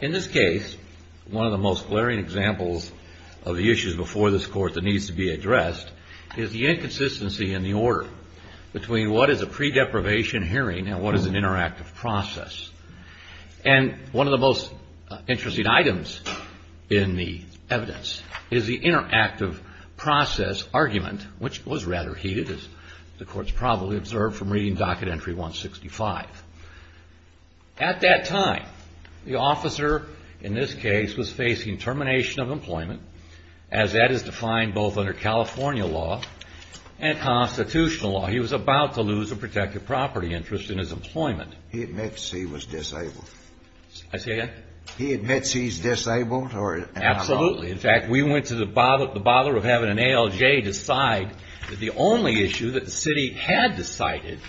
In this case, one of the most glaring examples of the issues before this Court that needs to be addressed is the inconsistency in the order between what is a pre-deprivation hearing and what is an interactive process. And one of the most interesting items in the evidence is the interactive process argument, which was rather heated, as the Court's probably observed from reading Docket Entry 165. At that time, the officer in this case was facing termination of employment, as that is defined both under California law and constitutional law. He was about to lose a protective property interest in his employment. In fact, we went to the bother of having an ALJ decide that the only issue that the city had decided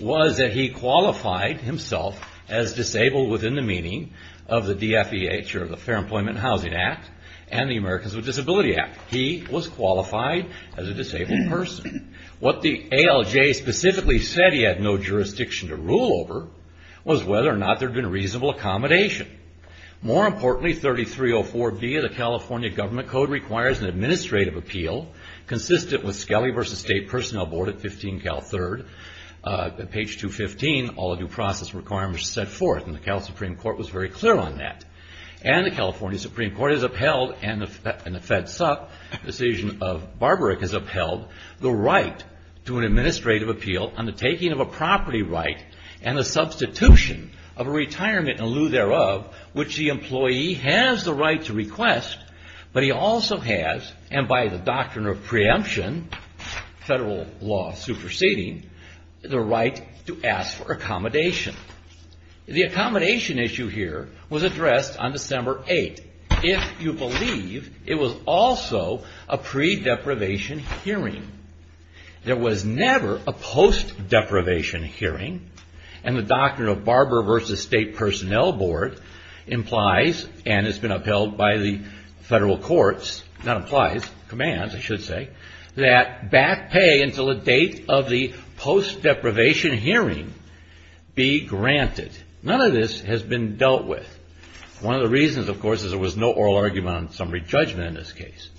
was that he qualified himself as disabled within the meaning of the DFEH, or the Fair Employment and Housing Act, and the Americans with Disabilities Act. He was whether or not there had been reasonable accommodation. More importantly, 3304B of the California Government Code requires an administrative appeal consistent with Skelly v. State Personnel Board at 15 Cal 3rd, page 215, all due process requirements set forth, and the Cal Supreme Court was very clear on that. And the California Supreme Court has upheld, and the FEDSUP decision of Barbaric has upheld, the right to an administrative appeal on the taking of a property right and the substitution of a retirement in lieu thereof, which the employee has the right to request, but he also has, and by the doctrine of preemption, federal law superseding, the right to ask for accommodation. The accommodation issue here was addressed on December 8, if you believe it was also a pre-deprivation hearing. There was never a post-deprivation hearing, and the doctrine of Barbaric v. State Personnel Board implies, and has been upheld by the federal courts, not implies, commands, I should say, that back pay until the date of the post-deprivation hearing be granted. None of this has been dealt with. One of the reasons, of course, is there was no oral argument on summary judgment in this action.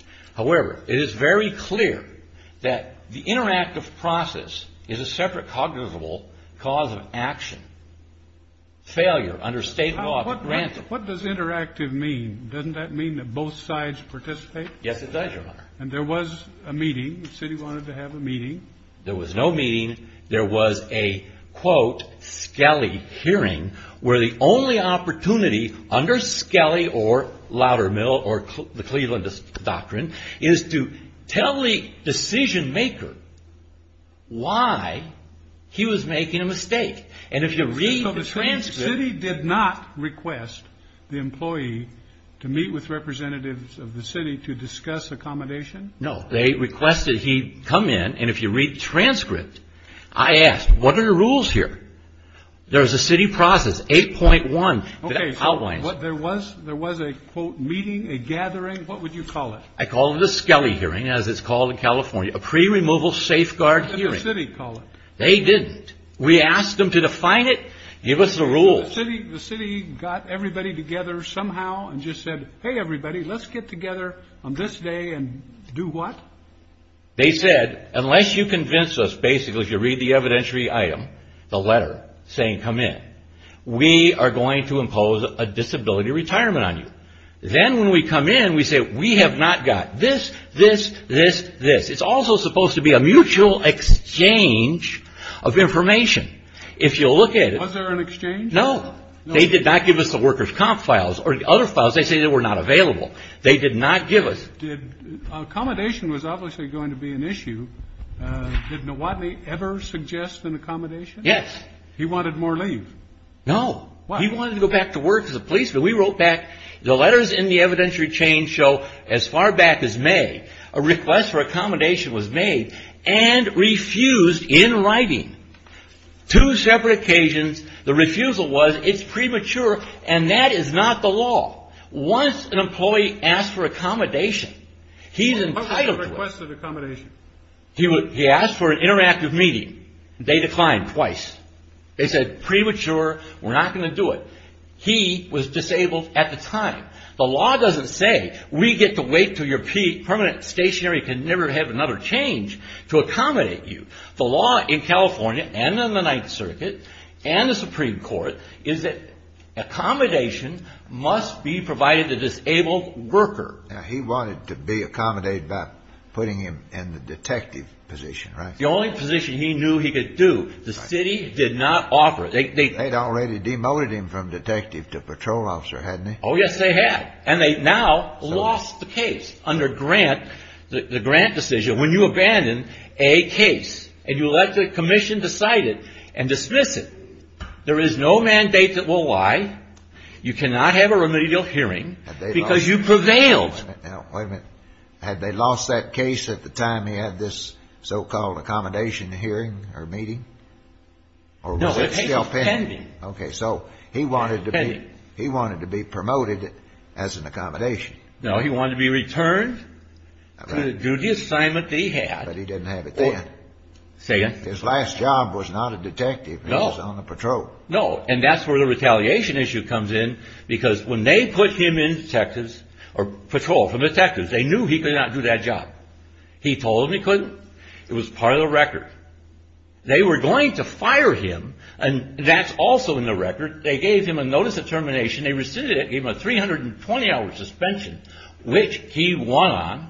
Failure under state law to grant it. What does interactive mean? Doesn't that mean that both sides participate? Yes, it does, Your Honor. And there was a meeting. The city wanted to have a meeting. There was no meeting. There was a, quote, skelly hearing, where the only opportunity under skelly or Loudermill or the Clevelandist doctrine is to tell the decision maker why he was making a mistake. And if you read the transcript... So the city did not request the employee to meet with representatives of the city to discuss accommodation? No. They requested he come in, and if you read the transcript, I asked, what are the rules here? There was a city process, 8.1, that outlines... Okay, so there was a, quote, meeting, a gathering, what would you call it? I call it a skelly hearing, as it's called in California, a pre-removal safeguard hearing. What did the city call it? They didn't. We asked them to define it, give us the rules. The city got everybody together somehow and just said, hey, everybody, let's get together on this day and do what? They said, unless you convince us, basically, if you read the evidentiary item, the letter saying come in, we are going to impose a disability retirement on you. Then when we come in, we have not got this, this, this, this. It's also supposed to be a mutual exchange of information. If you look at it... Was there an exchange? No. They did not give us the worker's comp files or other files. They say they were not available. They did not give us... Accommodation was obviously going to be an issue. Did Nowadney ever suggest an accommodation? Yes. He wanted more leave? No. He wanted to go back to work as a policeman. We wrote back, the letters in the evidentiary chain show as far back as May, a request for accommodation was made and refused in writing. Two separate occasions, the refusal was, it's premature and that is not the law. Once an employee asks for accommodation, he's entitled to it. What was the request for accommodation? He asked for an interactive meeting. They declined twice. They said, premature, we're going to wait until your peak. Permanent, stationary, can never have another change to accommodate you. The law in California and in the Ninth Circuit and the Supreme Court is that accommodation must be provided to disabled workers. He wanted to be accommodated by putting him in the detective position, right? The only position he knew he could do. The city did not offer it. They had already demoted him from detective to patrol officer, hadn't they? Oh, yes, they had. And they now lost the case under Grant, the Grant decision. When you abandon a case and you let the commission decide it and dismiss it, there is no mandate that will lie. You cannot have a remedial hearing because you prevailed. Now, wait a minute. Had they lost that case at the time he had this so-called accommodation hearing or meeting? No, it's pending. Okay. So he wanted to be promoted. He wanted to be promoted as an accommodation. No, he wanted to be returned to the duty assignment that he had. But he didn't have it then. Say again? His last job was not a detective. He was on the patrol. No. And that's where the retaliation issue comes in because when they put him in detectives or patrol for detectives, they knew he could not do that job. He told them he couldn't. It was part of the record. They were going to fire him, and that's also in the record. They gave him a notice of termination. They rescinded it. Gave him a 320-hour suspension, which he won on.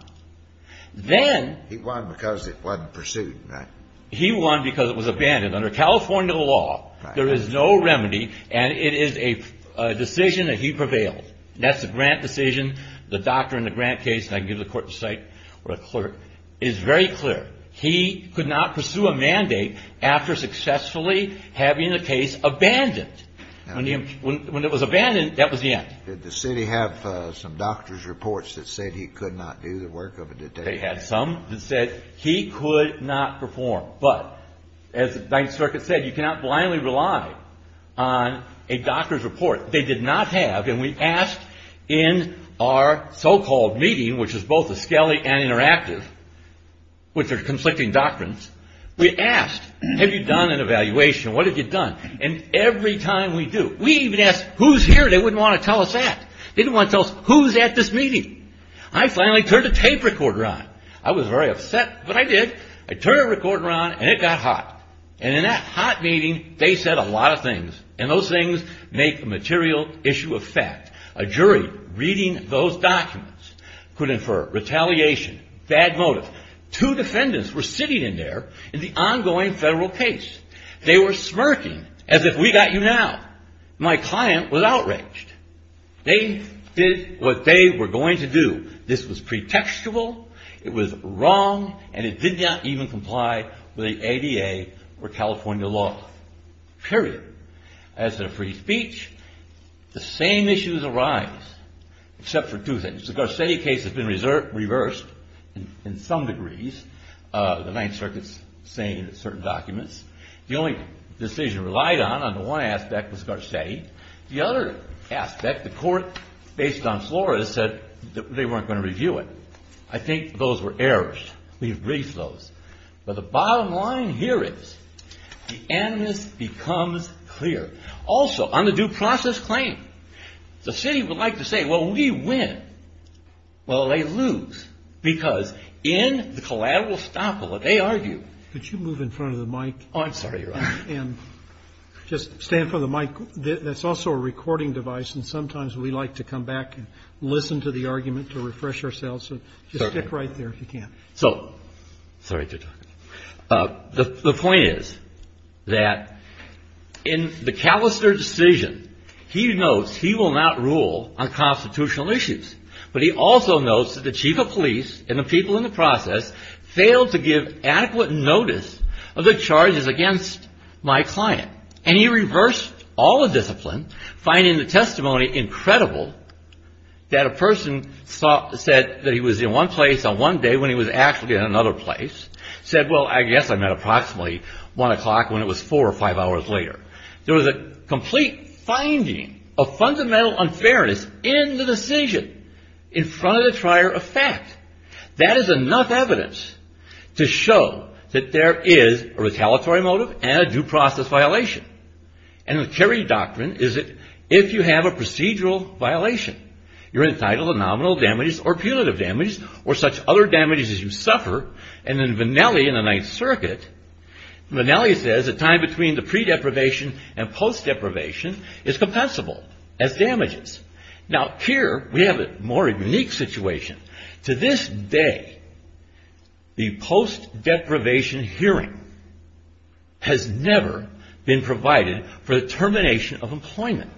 Then He won because it wasn't pursued, right? He won because it was abandoned. Under California law, there is no remedy, and it is a decision that he prevailed. That's the Grant decision. The doctor in the Grant case, and I can give the court the site or the clerk, is very clear. He could not pursue a mandate after successfully having a case abandoned. When it was abandoned, that was the end. Did the city have some doctor's reports that said he could not do the work of a detective? They had some that said he could not perform. But as the Ninth Circuit said, you cannot blindly rely on a doctor's report. They did not have, and we asked in our so-called meeting, which is both a skelly and interactive, which are conflicting doctrines, we asked, have you done an evaluation? What have you done? And every time we do, we even ask, who's here? They wouldn't want to tell us that. They didn't want to tell us who's at this meeting. I finally turned the tape recorder on. I was very upset, but I did. I turned the recorder on, and it got hot. And in that hot meeting, they said a lot of things, and those things make a material issue of fact. A jury reading those documents could infer retaliation, bad motive. Two defendants were sitting in there in the ongoing federal case. They were smirking as if we got you now. My client was outraged. They did what they were going to do. This was pretextual, it was wrong, and it did not even comply with the ADA or California law, period. As to free speech, the same issues arise, except for two things. The Garcetti case has been reversed in some degrees. The Ninth Circuit's saying certain documents. The only decision relied on, on the one aspect, was Garcetti. The other aspect, the court, based on Florida, said that they weren't going to review it. I think those were errors. We've briefed those. But the bottom line here is, the animus becomes clear. Also, on the due process claim, the city would like to say, well, we win. Well, they lose, because in the collateral stockpile, they argue. Could you move in front of the mic? I'm sorry, Your Honor. Just stand in front of the mic. That's also a recording device, and sometimes we like to come back and listen to the argument to refresh ourselves, so just stick right there if you can. So, sorry to talk. The point is that in the Callister decision, he notes he will not rule on constitutional issues. But he also notes that the chief of police and the people in the process failed to give adequate notice of the charges against my client. And he reversed all the discipline, finding the testimony incredible, that a person said that he was in one place on one day when he was actually in another place, said, well, I guess I met approximately 1 o'clock when it was 4 or 5 hours later. There was a complete finding of fundamental unfairness in the decision in front of the trier of fact. That is enough evidence to show that there is a retaliatory motive and a due process violation. And the Kerry Doctrine is that if you have a procedural violation, you're entitled to nominal damages or punitive damages or such other damages as you suffer. And in Vennelli in the Ninth Circuit, Vennelli says a time between the pre-deprivation and post-deprivation is compensable as damages. Now, here we have a more unique situation. To this day, the post-deprivation hearing has never been provided for the termination of employment.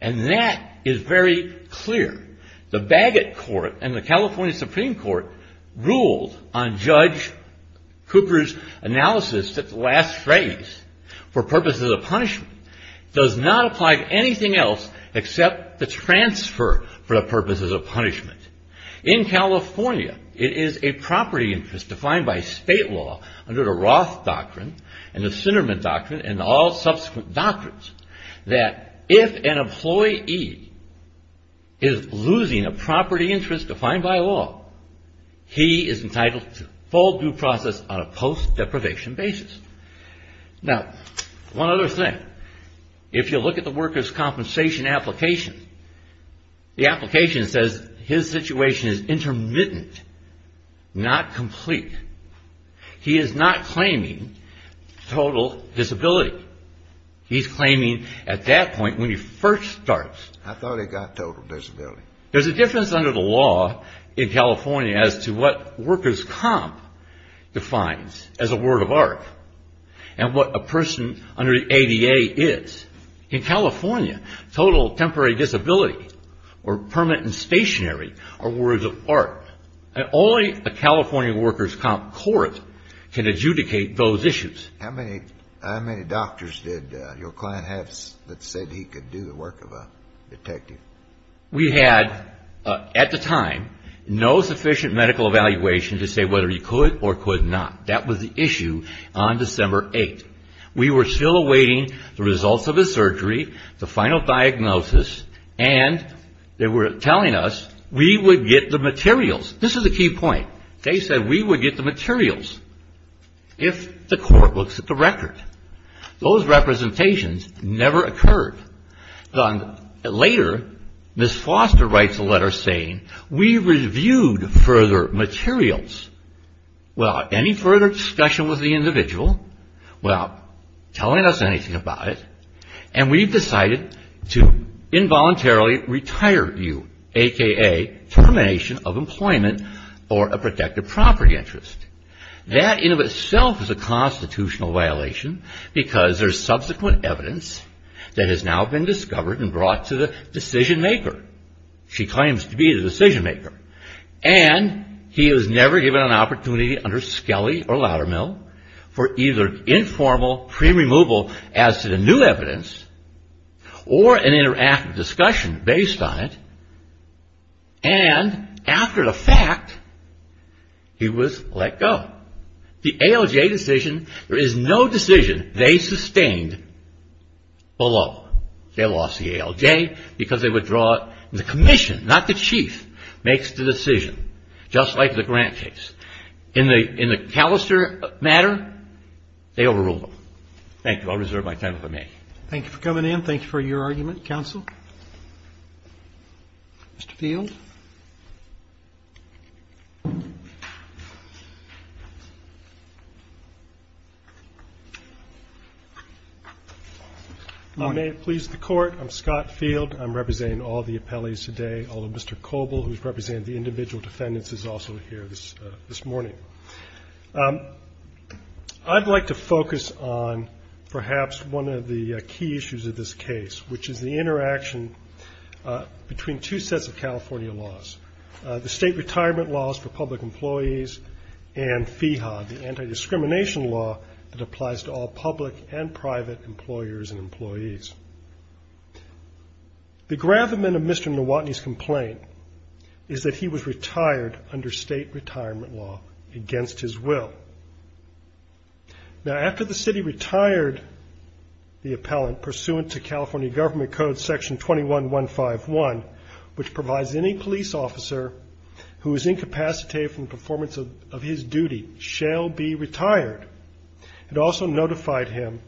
And that is very clear. The Bagot Court and the California Supreme Court ruled on Judge Cooper's analysis that the last phrase, for purposes of punishment, does not apply to anything else except the transfer for the purposes of punishment. In California, it is a property interest defined by state law under the Roth Doctrine and the Sinnerman Doctrine and all subsequent doctrines that if an employee is losing a property interest defined by law, he is entitled to full due process on a post-deprivation basis. Now, one other thing. If you look at the worker's compensation application, the application says his situation is intermittent, not complete. He is not claiming total disability. He's claiming at that point when he first starts. I thought he got total disability. There's a difference under the law in California as to what worker's comp defines as a word of art and what a person under the ADA is. In California, total temporary disability or permanent and stationary are words of art. Only a California worker's comp court can adjudicate those issues. How many doctors did your client have that said he could do the work of a detective? We had, at the time, no sufficient medical evaluation to say whether he could or could not. That was the issue on December 8th. We were still awaiting the results of his surgery, the final diagnosis, and they were telling us we would get the materials. This is a key point. They said we would get the materials if the court looks at the record. Those representations never occurred. Later, Ms. Foster writes a letter saying we reviewed further materials without any further discussion with the individual, without telling us anything about it, and we've decided to involuntarily retire you, a.k.a. termination of employment or a protected property interest. That in and of itself is a constitutional violation because there's subsequent evidence that has now been discovered and brought to the decision maker. She claims to be the decision maker. He was never given an opportunity under Skelly or Loudermill for either informal pre-removal as to the new evidence or an interactive discussion based on it, and after the fact, he was let go. The ALJ decision, there is no decision they sustained below. They lost the ALJ because they withdraw it. The commission, not the matter, they overruled them. Thank you. I'll reserve my time if I may. Thank you for coming in. Thank you for your argument, counsel. Mr. Field? I may have pleased the Court. I'm Scott Field. I'm representing all the appellees today, all of Mr. Coble, who's representing the individual defendants, is also here this morning. I'd like to focus on perhaps one of the key issues of this case, which is the interaction between two sets of California laws, the state retirement laws for public employees and FIHA, the anti-discrimination law that applies to all public and private employers and employees. The gravamen of Mr. Coble's complaint is that he was retired under state retirement law against his will. Now, after the city retired the appellant pursuant to California Government Code Section 21-151, which provides any police officer who is incapacitated from the performance of his duty shall be retired, it also notified him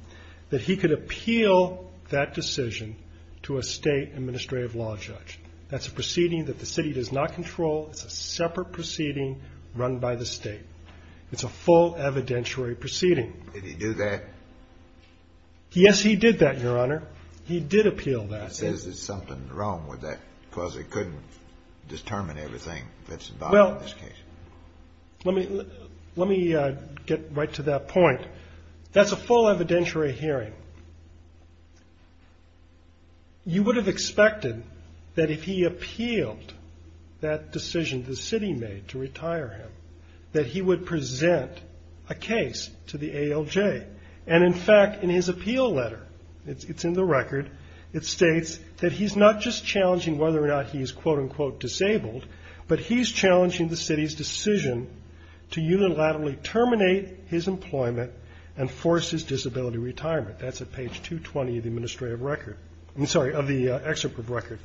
that he could appeal that decision to a state administrative law judge. That's a proceeding that the city does not control. It's a separate proceeding run by the state. It's a full evidentiary proceeding. Did he do that? Yes, he did that, Your Honor. He did appeal that. Is there something wrong with that? Because it couldn't determine everything that's involved in this case. Let me get right to that point. That's a full evidentiary hearing. You would have expected that if he appealed that decision the city made to retire him, that he would present a case to the ALJ. In fact, in his appeal letter, it's in the record, it states that he's not just challenging whether or not he's quote-unquote disabled, but he's challenging the city's decision to unilaterally terminate his employment and force his disability retirement. That's at page 220 of the administrative record. I'm sorry, of the excerpt of record.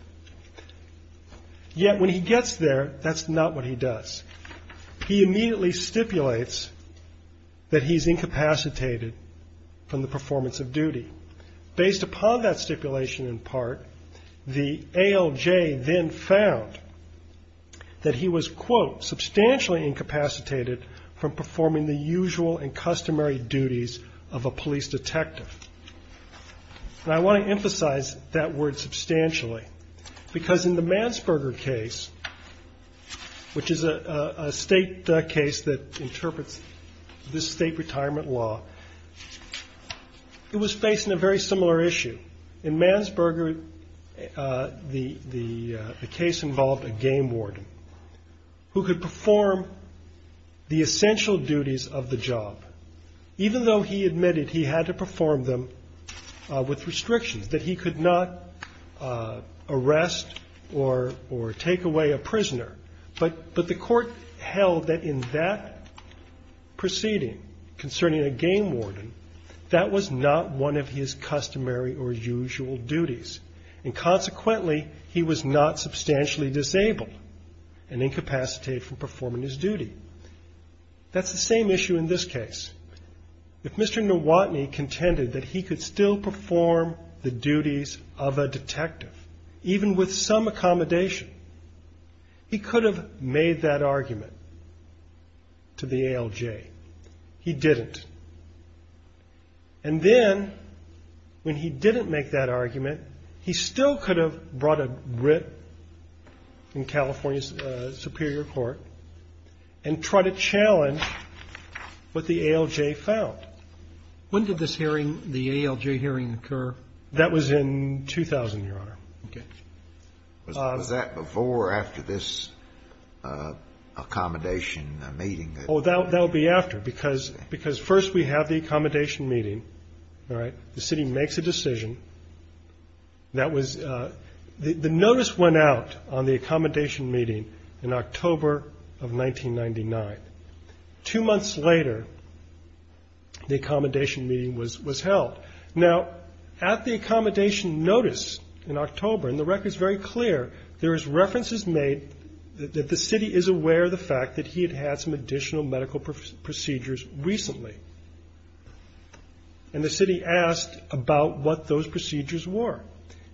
Yet when he gets there, that's not what he does. He immediately stipulates that he's incapacitated from the performance of duty. Based upon that stipulation in part, the ALJ then found that he was quote, substantially incapacitated from performing the usual and customary duties of a police detective. I want to emphasize that word substantially, because in the Mansberger case, which is a state case that interprets this state retirement law, it was facing a very similar issue. In Mansberger, the case involved a game warden who could perform the essential duties of the job, even though he admitted he had to perform them with restrictions, that he could not arrest or take away a prisoner. But the court held that in that proceeding concerning a game warden, that was not one of his customary or usual duties. And consequently, he was not substantially disabled and incapacitated from performing his duty. That's the same issue in this case. If Mr. Nowotny contended that he could still perform the duties of a detective, even with some accommodation, he could have made that argument to the ALJ. He didn't. And then, when he didn't make that argument, he still could have brought a writ in California's Superior Court and tried to challenge what the ALJ found. When did this hearing, the ALJ hearing, occur? That was in 2000, Your Honor. Okay. Was that before or after this accommodation meeting that? Oh, that would be after, because first we have the accommodation meeting, all right? The city makes a decision. The notice went out on the accommodation meeting in October of 1999. Two months later, the accommodation meeting was held. Now, at the accommodation notice in October, and the record's very clear, there is references made that the city is aware of the fact that he had had some additional medical procedures recently. And the city asked about what those procedures were.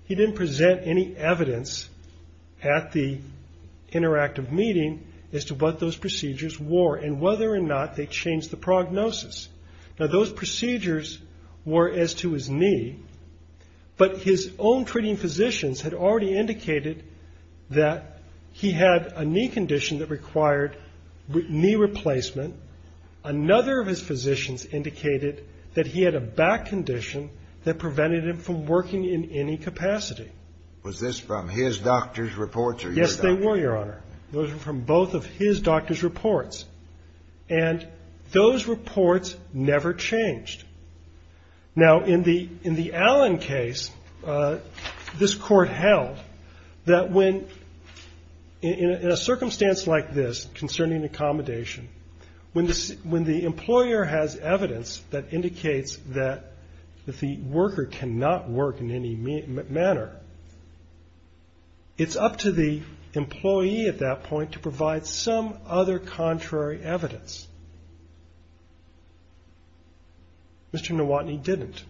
He didn't present any evidence at the interactive meeting as to what those procedures were and whether or not they changed the prognosis. Now, those procedures were as to his knee, but his own treating physicians had already indicated that he had a knee condition that required knee replacement. Another of his condition that prevented him from working in any capacity. Was this from his doctor's reports or your doctor's? Yes, they were, Your Honor. Those were from both of his doctor's reports. And those reports never changed. Now, in the Allen case, this Court held that when, in a circumstance like this concerning accommodation, when the employer has evidence that indicates that the worker cannot work in any manner, it's up to the employee at that point to provide some other contrary evidence. Mr. Nowotny didn't.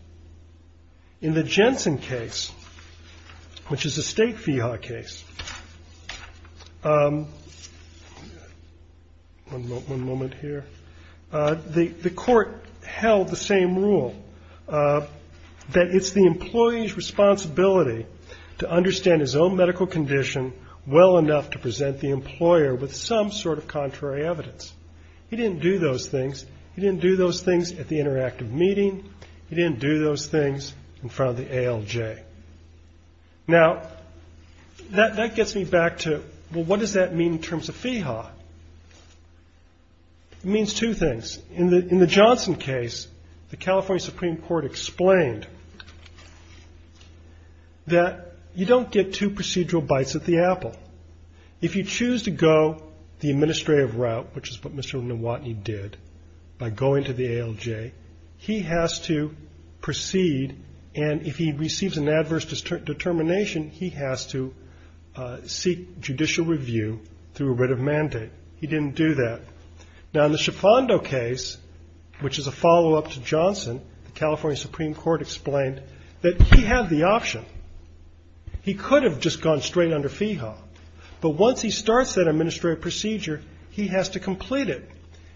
In the Jensen case, which is a state FIHA case, one moment here, the Court held the same rule, that it's the employee's responsibility to understand his own medical condition well enough to present the employer with some sort of contrary evidence. He didn't do those things. He didn't do those things at the interactive meeting. He didn't do those things in front of the ALJ. Now, that gets me back to, well, what does that mean in terms of FIHA? It means two things. In the Johnson case, the California Supreme Court explained that you don't get two procedural bites at the apple. If you choose to go the administrative route, which is what Mr. Nowotny did by going to the ALJ, he has to proceed, and if he receives an adverse determination, he has to seek judicial review through a writ of mandate. He didn't do that. Now, in the Schifando case, which is a follow-up to Johnson, the California Supreme Court explained that he had the option. He could have just gone straight under FIHA, but once he starts that administrative procedure, he has to complete it,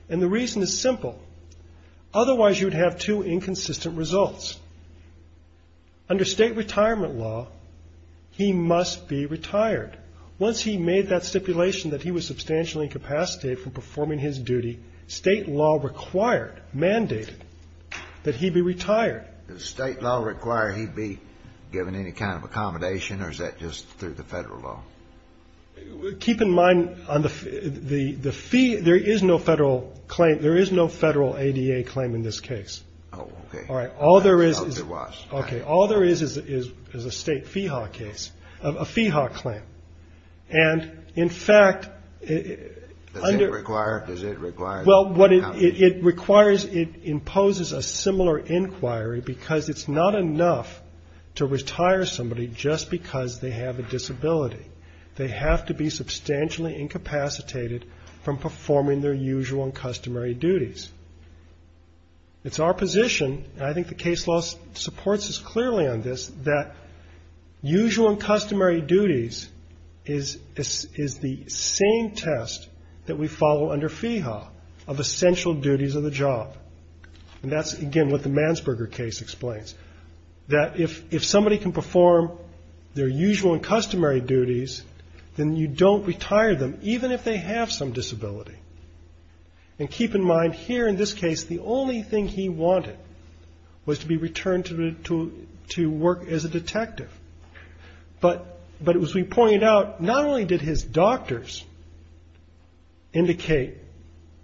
and the reason is simple. Otherwise, you'd have two inconsistent results. Under state retirement law, he must be retired. Once he made that stipulation that he was substantially incapacitated from performing his duty, state law required, mandated, that he be retired. The state law required he be given any kind of accommodation, or is that just through the federal law? Keep in mind, on the fee, there is no federal claim. There is no federal ADA claim in this case. Oh, okay. All right. All there is is a state FIHA case, a FIHA claim, and the state law requires that he be retired. And, in fact, under Does it require? Does it require that he be accommodated? Well, what it requires, it imposes a similar inquiry because it's not enough to retire somebody just because they have a disability. They have to be substantially incapacitated from performing their usual and customary duties. It's our position, and I think the case law supports this clearly on this, that usual and customary duties is the same test that we follow under FIHA of essential duties of the job. And that's, again, what the Mansberger case explains, that if somebody can perform their usual and customary duties, then you don't retire them, even if they have some disability. And keep in mind, here in this case, the only thing he wanted was to be returned to work as a detective. But, as we pointed out, not only did his doctors indicate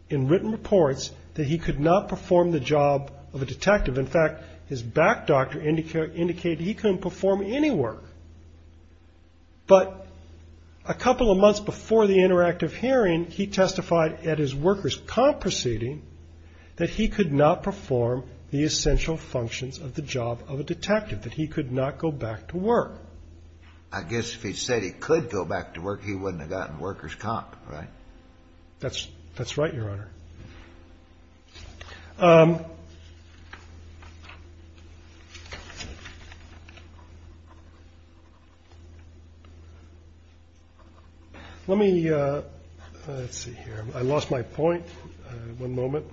in written reports that he could not perform the job of a detective, in fact, his back doctor indicated he couldn't perform any work. But a couple of months before the interactive hearing, he testified at his workers' comp proceeding that he could not perform the essential functions of the job of a detective, that he could not go back to work. I guess if he said he could go back to work, he wouldn't have gotten workers' comp, right? That's right, Your Honor. Let me see here. I lost my point. One moment.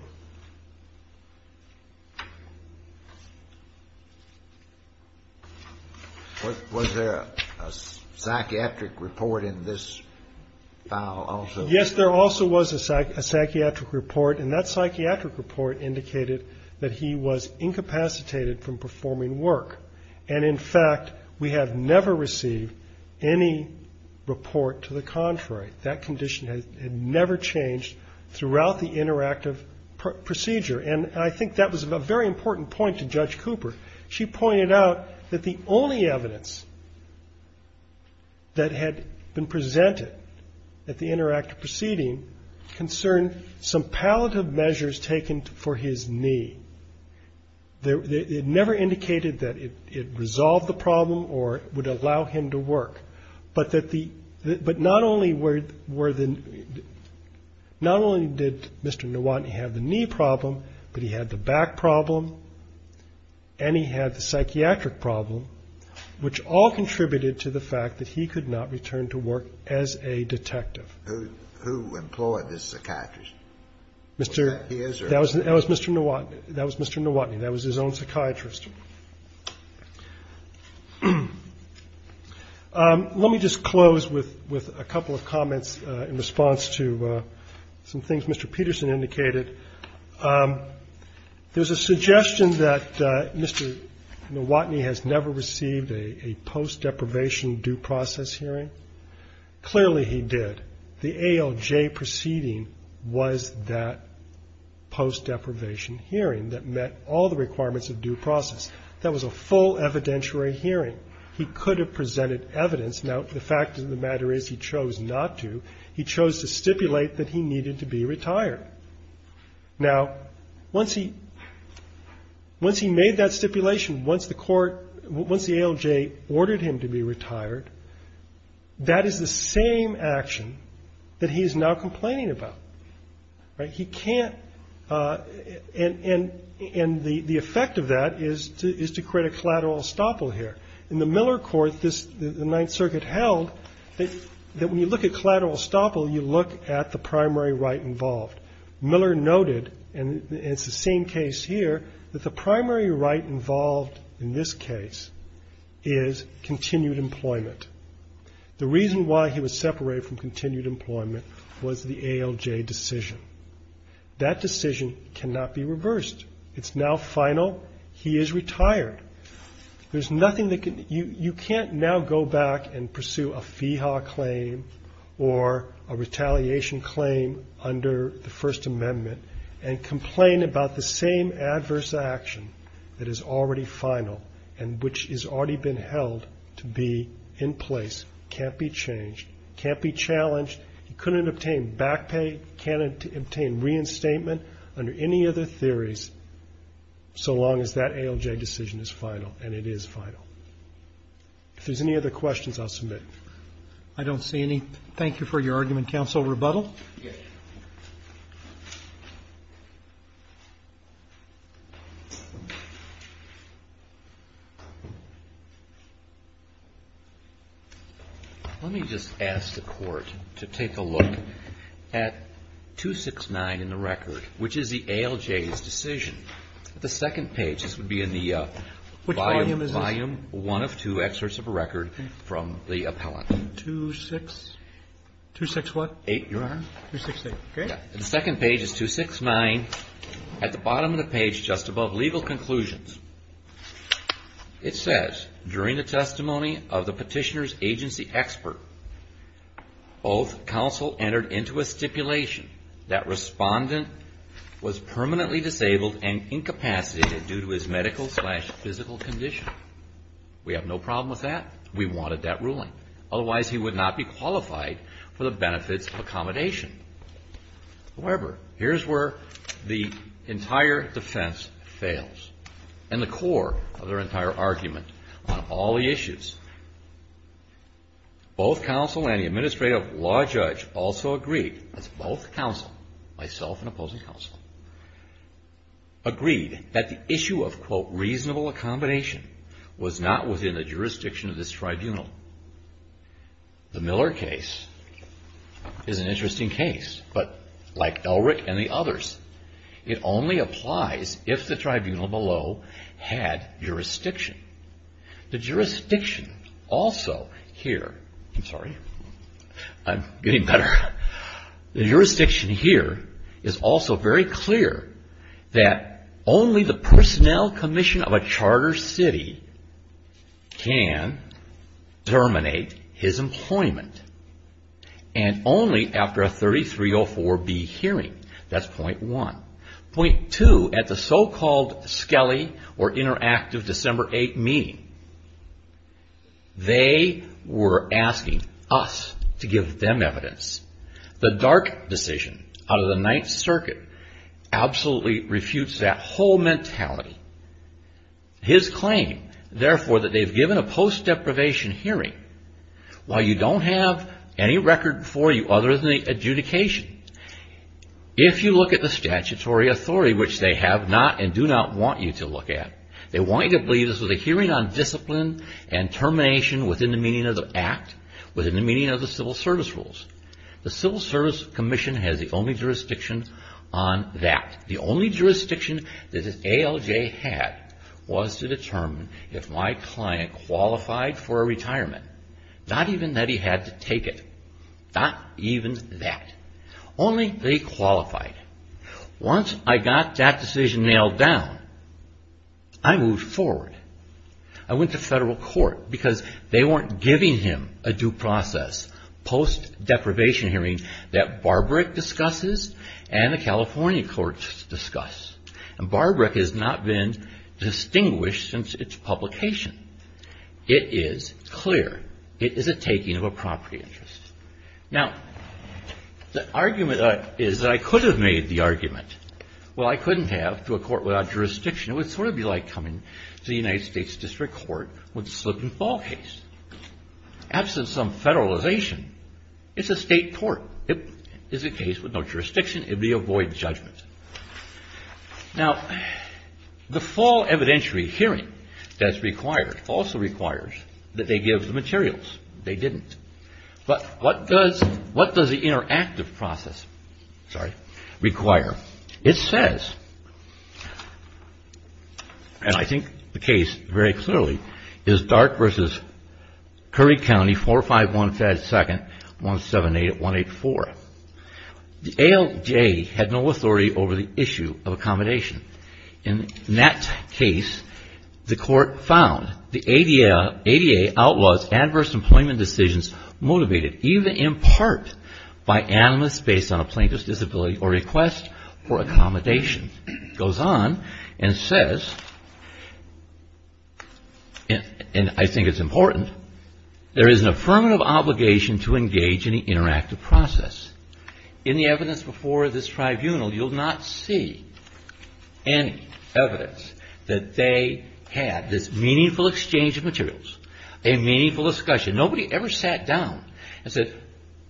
Was there a psychiatric report in this file also? Yes, there also was a psychiatric report, and that psychiatric report indicated that he was incapacitated from performing work. And, in fact, we have never received any report to the contrary. That condition had never changed throughout the interactive procedure. And I think that was a very important point to Judge Cooper. She pointed out that the only evidence that had been presented at the interactive proceeding concerned some palliative measures taken for his knee. It never indicated that it resolved the problem or would allow him to work. But not only did Mr. Nuwati have the knee problem, but it also indicated that he could not perform work, but he had the back problem and he had the psychiatric problem, which all contributed to the fact that he could not return to work as a detective. Who employed this psychiatrist? Was that his or? That was Mr. Nuwati. That was Mr. Nuwati. That was his own psychiatrist. Let me just close with a couple of comments in response to some things Mr. Peterson indicated. There's a suggestion that Mr. Nuwati has never received a post-deprivation due process hearing. Clearly he did. The ALJ proceeding was that post-deprivation hearing that met all the requirements of due process. That was a full evidentiary hearing. He could have presented evidence. Now, the fact of the matter is he chose not to. He chose to stipulate that he needed to be retired. Now, once he made that stipulation, once the ALJ ordered him to be retired, that is the same action that he is now complaining about. He can't. And the effect of that is to create a collateral estoppel here. In the Miller court, the Ninth Circuit held that when you look at collateral estoppel, you look at the primary right involved. Miller noted, and it's the same case here, that the primary right involved in this case is continued employment. The reason why he was separated from continued employment was the ALJ decision. That decision cannot be changed. You can't now go back and pursue a FEHA claim or a retaliation claim under the First Amendment and complain about the same adverse action that is already final and which has already been held to be in place, can't be changed, can't be challenged. He couldn't obtain back pay, can't obtain reinstatement under any other theories so long as that ALJ decision is final, and it is the ALJ decision. If there's any other questions, I'll submit. Roberts. I don't see any. Thank you for your argument. Counsel Rebuttal? Rebuttal. Let me just ask the Court to take a look at 269 in the record, which is the ALJ's decision. The second page, this would be in the volume one of two excerpts of a record from the appellant. The second page is 269. At the bottom of the page just above legal conclusions, it says, during the testimony of the petitioner's agency expert, both counsel entered into a stipulation that the respondent was permanently disabled and incapacitated due to his medical-slash-physical condition. We have no problem with that. We wanted that ruling. Otherwise, he would not be qualified for the benefits of accommodation. However, here's where the entire defense fails, and the core of their entire argument on all the issues. Both counsel and the administrative law judge also agreed, that's both counsel, myself and opposing counsel, agreed that the issue of, quote, reasonable accommodation was not within the jurisdiction of this tribunal. The Miller case is an interesting case, but like Elric and the others, it only applies if the tribunal below had jurisdiction. The jurisdiction also here, I'm sorry, I'm getting better. The jurisdiction here is also very clear that only the personnel commission of a charter city can terminate his employment, and only after a 3304B hearing. That's point one. Point two, at the so-called Skelly or Interactive December 8th meeting, only after a 3304B hearing, they were asking us to give them evidence. The dark decision out of the Ninth Circuit absolutely refutes that whole mentality. His claim, therefore, that they've given a post-deprivation hearing, while you don't have any record for you other than the adjudication, if you look at the statutory authority, which they have not and do not want you to look at. They want you to believe this was a hearing on discipline and termination within the meaning of the act, within the meaning of the civil service rules. The Civil Service Commission has the only jurisdiction on that. The only jurisdiction that the ALJ had was to determine if my client qualified for a retirement. Not even that he had to take it. Not even that. Only that he qualified. Once I got that decision nailed down, I had to take it. I moved forward. I went to federal court because they weren't giving him a due process post-deprivation hearing that Barberick discusses and the California courts discuss. And Barberick has not been distinguished since its publication. It is clear. It is a taking of a property interest. Now, the argument is that I could have made the argument. Well, I couldn't have to a court without jurisdiction. It would sort of be like coming to the United States District Court with a slip-and-fall case. Absent some federalization, it's a state court. It is a case with no jurisdiction. It would be a void judgment. Now, the full evidentiary hearing that's required also requires that they give the materials. They didn't. But what does the interactive process require? It says, and I think the case very clearly, is Dark v. Curry County 45152-178-184. The ALJ had no authority over the issue of accommodation. In that case, the court found the ADA outlaws adverse employment decisions motivated even in part by animus based on a plaintiff's disability or request for a accommodation. It goes on and says, and I think it's important, there is an affirmative obligation to engage in the interactive process. In the evidence before this tribunal, you'll not see any evidence that they had this meaningful exchange of materials, a meaningful discussion. Nobody ever sat down and said,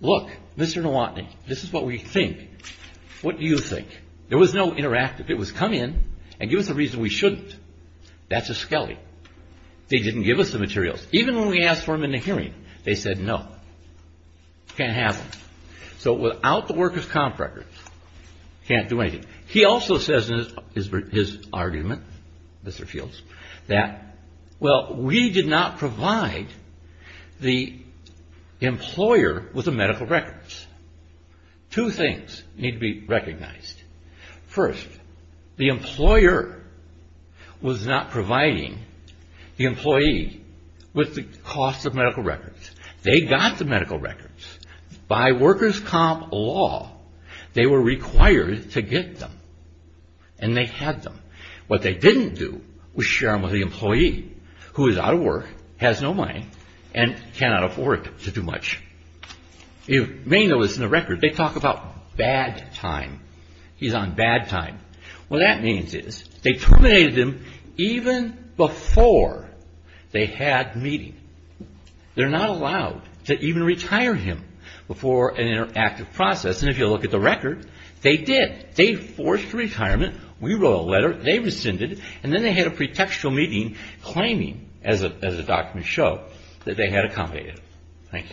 look, Mr. Nowotny, this is what we think. What do you think? There was no interactive. It was come in and give us a reason we shouldn't. That's a skelly. They didn't give us the materials. Even when we asked for them in the hearing, they said no. Can't have them. So without the worker's comp record, can't do anything. He also says in his argument, Mr. Fields, that, well, we did not provide the employer with the medical records. Two things need to be recognized. First, the employer was not providing the employee with the cost of medical records. They got the medical records. By worker's comp law, they were required to get them. And they had them. What they didn't do was share them with the employee who is out of work, has no money, and cannot afford to do much. If Ringo is in the record, they talk about bad time. He's on bad time. What that means is they terminated him even before they had meeting. They're not allowed to even retire him before an interactive process. And if you look at the record, they did. They forced retirement. We wrote a letter. They rescinded. And then they had a pretextual meeting claiming, as the documents show, that they had accommodated him. Thank you.